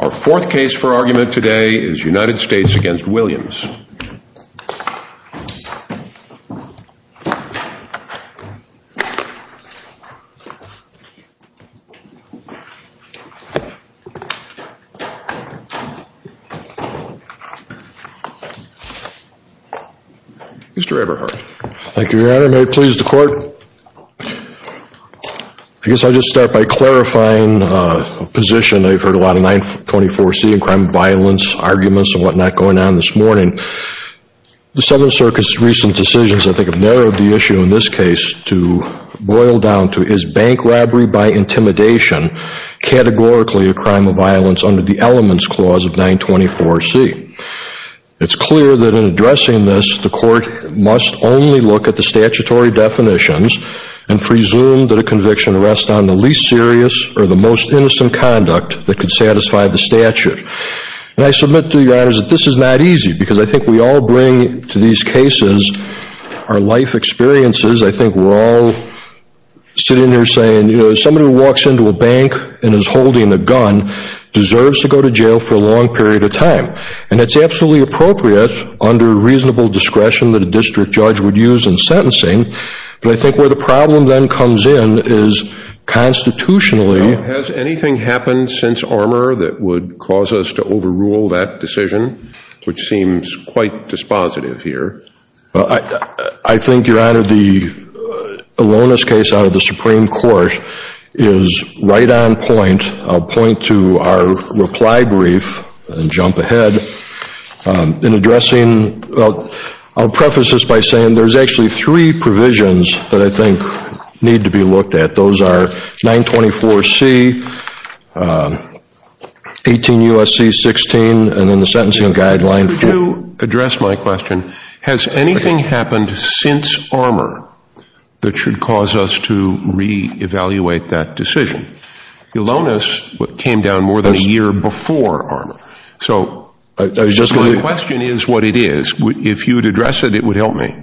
Our fourth case for argument today is United States v. Williams. Mr. Everhart. Thank you, Your Honor. May it please the Court? I guess I'll just start by clarifying a position I've heard a lot of 924C and crime of violence arguments and whatnot going on this morning. The Seventh Circuit's recent decisions, I think, have narrowed the issue in this case to boil down to, is bank robbery by intimidation categorically a crime of violence under the Elements Clause of 924C? It's clear that in addressing this, the Court must only look at the statutory definitions and presume that a conviction rests on the least serious or the most innocent conduct that could satisfy the statute. And I submit to you, Your Honors, that this is not easy, because I think we all bring to these cases our life experiences. I think we're all sitting here saying, you know, somebody who walks into a bank and is holding a gun deserves to go to jail for a long period of time. And it's absolutely appropriate under reasonable discretion that a district judge would use in sentencing, but I think where the problem then comes in is constitutionally... Now, has anything happened since Armour that would cause us to overrule that decision, which seems quite dispositive here? I think, Your Honor, the Alonis case out of the Supreme Court is right on point. I'll point to our reply brief and jump ahead in addressing... I'll preface this by saying there's actually three provisions that I think need to be looked at. Those are 924C, 18 U.S.C. 16, and in the sentencing guidelines... Could you address my question? Has anything happened since Armour that should cause us to re-evaluate that decision? The Alonis came down more than a year before Armour. So my question is what it is. If you would address it, it would help me.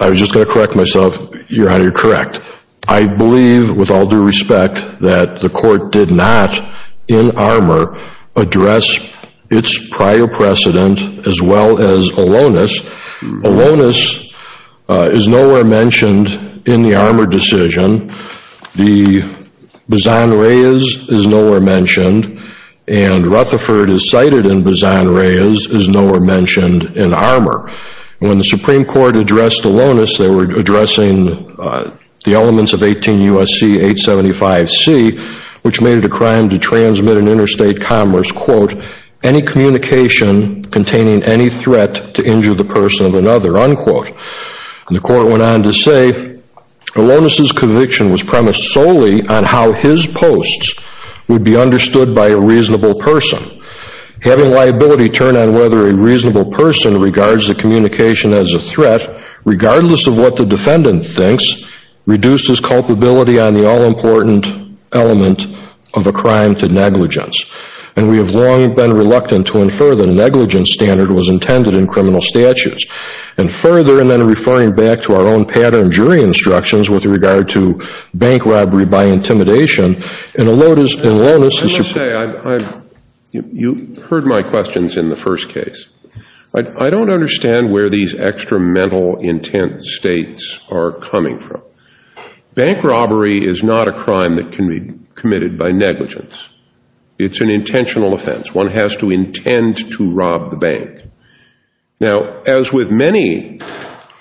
I was just going to correct myself. Your Honor, you're correct. I believe with all due respect that the court did not in Armour address its prior precedent as well as Alonis. Alonis is nowhere mentioned in the Armour decision. The Bizan Reyes is nowhere mentioned. And Rutherford, as cited in Bizan Reyes, is nowhere mentioned in Armour. When the Supreme Court addressed Alonis, they were addressing the elements of 18 U.S.C. 875C, which made it a crime to transmit in interstate commerce, quote, any communication containing any threat to injure the person of another, unquote. And the court went on to say, Alonis' conviction was premised solely on how his posts would be understood by a reasonable person. Having liability turn on whether a reasonable person regards the communication as a threat, regardless of what the defendant thinks, reduces culpability on the all-important element of a crime to negligence. And we have long been reluctant to infer that a negligence standard was intended in criminal statutes. And further, and then referring back to our own pattern of jury instructions with regard to bank robbery by intimidation, in Alonis, the Supreme Court I must say, you heard my questions in the first case. I don't understand where these extra mental intent states are coming from. Bank robbery is not a crime that can be committed by negligence. It's an intentional offense. One has to intend to rob the bank. Now, as with many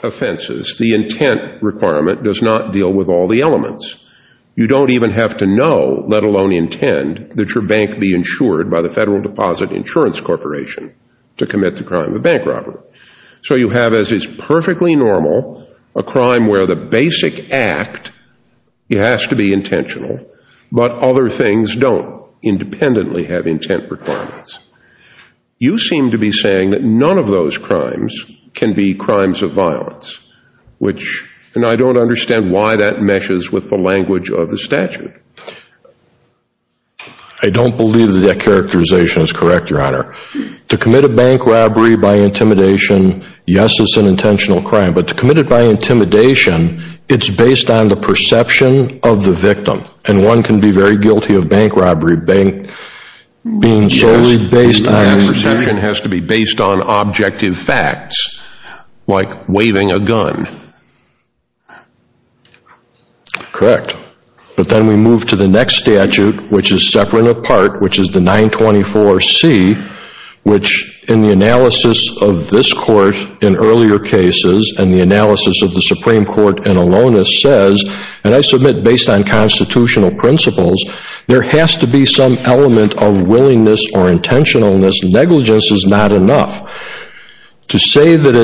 offenses, the intent requirement does not deal with all the elements. You don't even have to know, let alone intend, that your bank be insured by the Federal Deposit Insurance Corporation to commit the crime of bank robbery. So you have, as is perfectly normal, a crime where the basic act, it has to be intentional, but other things don't independently have intent requirements. You seem to be saying that none of those crimes can be crimes of violence, which, and I don't understand why that meshes with the language of the statute. I don't believe that that characterization is correct, Your Honor. To commit a bank robbery by intimidation, yes, it's an intentional crime. But to commit it by intimidation, it's based on the perception of the victim. And one can be very guilty of bank robbery being solely based on— Yes, and that perception has to be based on objective facts, like waving a gun. Correct. But then we move to the next statute, which is separate and apart, which is the 924C, which, in the analysis of this Court in earlier cases and the analysis of the Supreme Court in Alonis, says, and I submit based on constitutional principles, there has to be some element of willingness or intentionalness. Negligence is not enough. To say that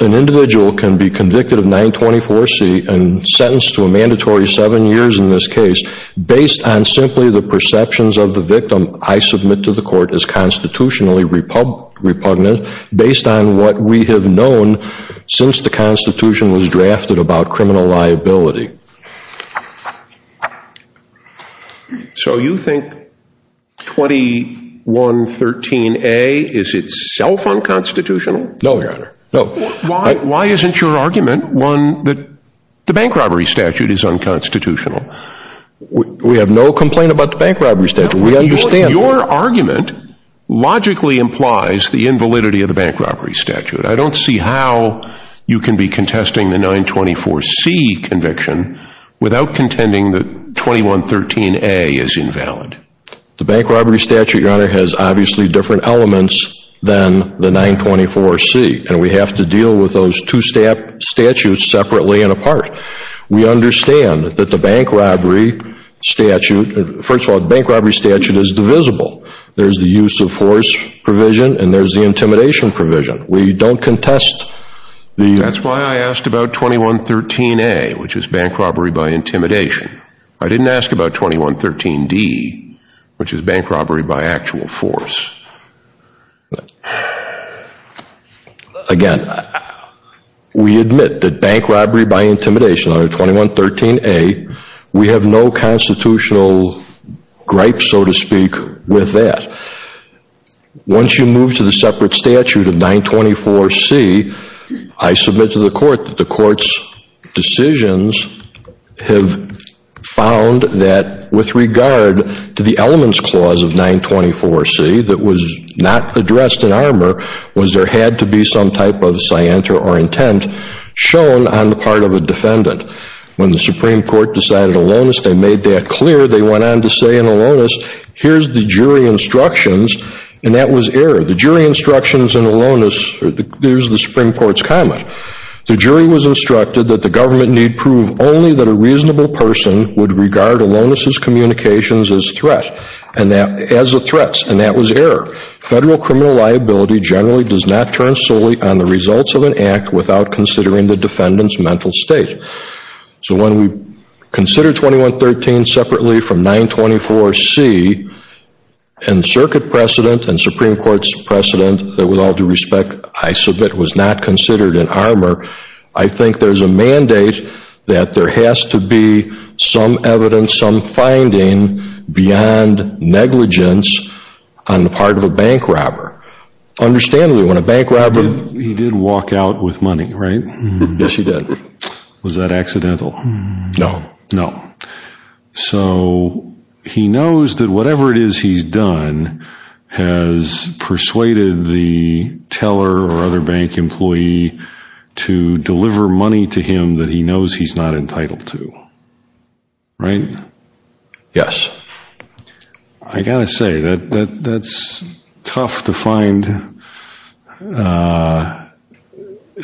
an individual can be convicted of 924C and sentenced to a mandatory seven years in this case based on simply the perceptions of the victim, I submit to the Court as constitutionally repugnant based on what we have known since the Constitution was drafted about criminal liability. So you think 2113A is itself unconstitutional? No, Your Honor. Why isn't your argument one that the bank robbery statute is unconstitutional? We have no complaint about the bank robbery statute. We understand that. Your argument logically implies the invalidity of the bank robbery statute. I don't see how you can be contesting the 924C conviction without contending that 2113A is invalid. The bank robbery statute, Your Honor, has obviously different elements than the 924C, and we have to deal with those two statutes separately and apart. We understand that the bank robbery statute, first of all, the bank robbery statute is divisible. There's the use of force provision and there's the intimidation provision. We don't contest the... That's why I asked about 2113A, which is bank robbery by intimidation. I didn't ask about 2113D, which is bank robbery by actual force. Again, we admit that bank robbery by intimidation under 2113A, we have no constitutional gripe, so to speak, with that. Once you move to the separate statute of 924C, I submit to the court that the court's decisions have found that with regard to the elements clause of 924C that was not addressed in armor was there had to be some type of scienter or intent shown on the part of a defendant. When the Supreme Court decided aloneness, they made that clear. They went on to say in aloneness, here's the jury instructions, and that was error. The jury instructions in aloneness, here's the Supreme Court's comment. The jury was instructed that the government need prove only that a reasonable person would regard aloneness' communications as threats, and that was error. Federal criminal liability generally does not turn solely on the results of an act without considering the defendant's mental state. So when we consider 2113 separately from 924C, and circuit precedent and Supreme Court's precedent that with all due respect I submit was not considered in armor, I think there's a mandate that there has to be some evidence, some finding beyond negligence on the part of a bank robber. Understandably, when a bank robber... He did walk out with money, right? Yes, he did. Was that accidental? No. No. So he knows that whatever it is he's done has persuaded the teller or other bank employee to deliver money to him that he knows he's not entitled to, right? Yes. I've got to say that that's tough to find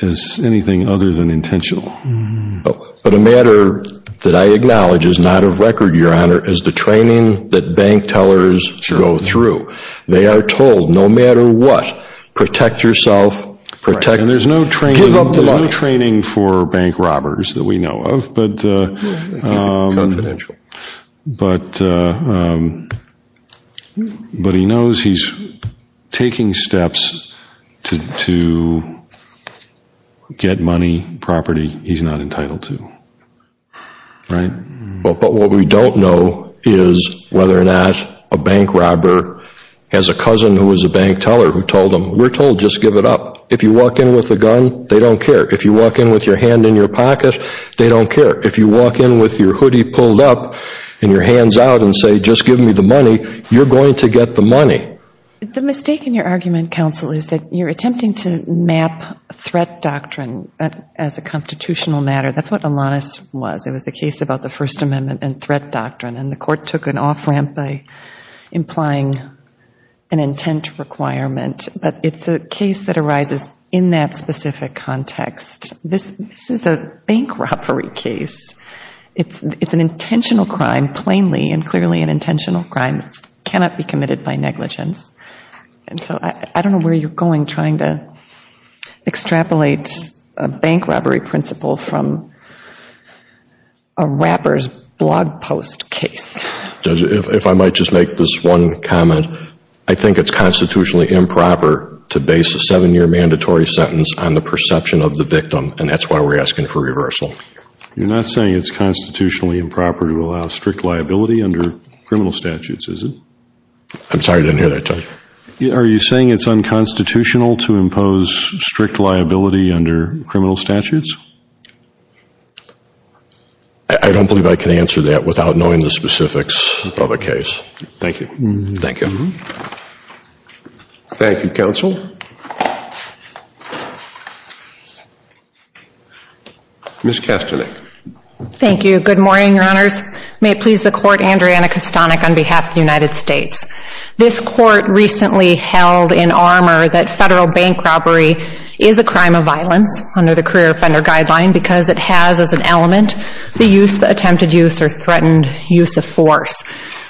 as anything other than intentional. But a matter that I acknowledge is not of record, Your Honor, is the training that bank tellers go through. They are told no matter what, protect yourself, protect... And there's no training for bank robbers that we know of. Confidential. But he knows he's taking steps to get money, property he's not entitled to, right? But what we don't know is whether or not a bank robber has a cousin who is a bank teller who told him, we're told just give it up. If you walk in with a gun, they don't care. If you walk in with your hand in your pocket, they don't care. If you walk in with your hoodie pulled up and your hands out and say just give me the money, you're going to get the money. The mistake in your argument, counsel, is that you're attempting to map threat doctrine as a constitutional matter. That's what Alanis was. It was a case about the First Amendment and threat doctrine. And the court took an off-ramp by implying an intent requirement. But it's a case that arises in that specific context. This is a bank robbery case. It's an intentional crime, plainly and clearly an intentional crime. It cannot be committed by negligence. And so I don't know where you're going trying to extrapolate a bank robbery principle from a rapper's blog post case. Judge, if I might just make this one comment. I think it's constitutionally improper to base a seven-year mandatory sentence on the perception of the victim. And that's why we're asking for reversal. You're not saying it's constitutionally improper to allow strict liability under criminal statutes, is it? I'm sorry, I didn't hear that, Judge. Are you saying it's unconstitutional to impose strict liability under criminal statutes? I don't believe I can answer that without knowing the specifics of a case. Thank you. Thank you. Thank you, Counsel. Ms. Kastelik. Thank you. Good morning, Your Honors. May it please the Court, Andrea Anna Kastelik on behalf of the United States. This Court recently held in armor that federal bank robbery is a crime of violence under the Career Offender Guideline because it has as an element the use, the attempted use, or threatened use of force.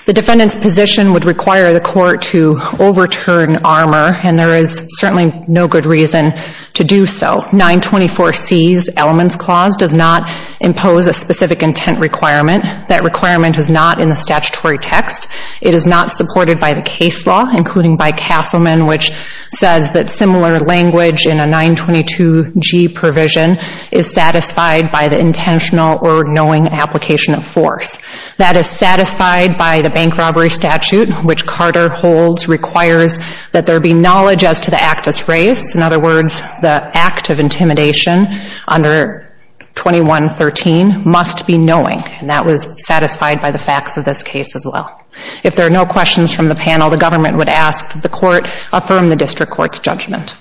The defendant's position would require the Court to overturn armor, and there is certainly no good reason to do so. 924C's elements clause does not impose a specific intent requirement. That requirement is not in the statutory text. It is not supported by the case law, including by Castleman, which says that similar language in a 922G provision is satisfied by the intentional or knowing application of force. That is satisfied by the bank robbery statute, which Carter holds requires that there be knowledge as to the act as raised. In other words, the act of intimidation under 2113 must be knowing, and that was satisfied by the facts of this case as well. If there are no questions from the panel, the government would ask that the Court affirm the district court's judgment.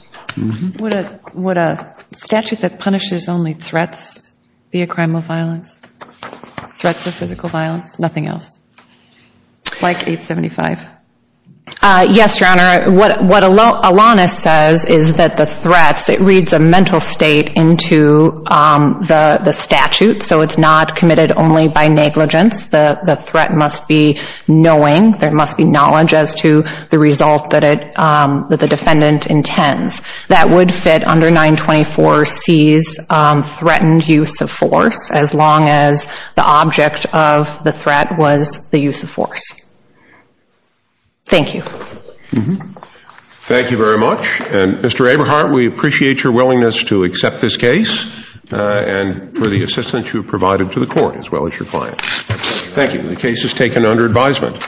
Would a statute that punishes only threats be a crime of violence? Threats of physical violence? Nothing else? Like 875? Yes, Your Honor. What Alanis says is that the threats, it reads a mental state into the statute, so it's not committed only by negligence. The threat must be knowing. There must be knowledge as to the result that the defendant intends. That would fit under 924C's threatened use of force, as long as the object of the threat was the use of force. Thank you. Thank you very much. And Mr. Eberhardt, we appreciate your willingness to accept this case and for the assistance you've provided to the Court as well as your clients. Thank you. The case is taken under advisement.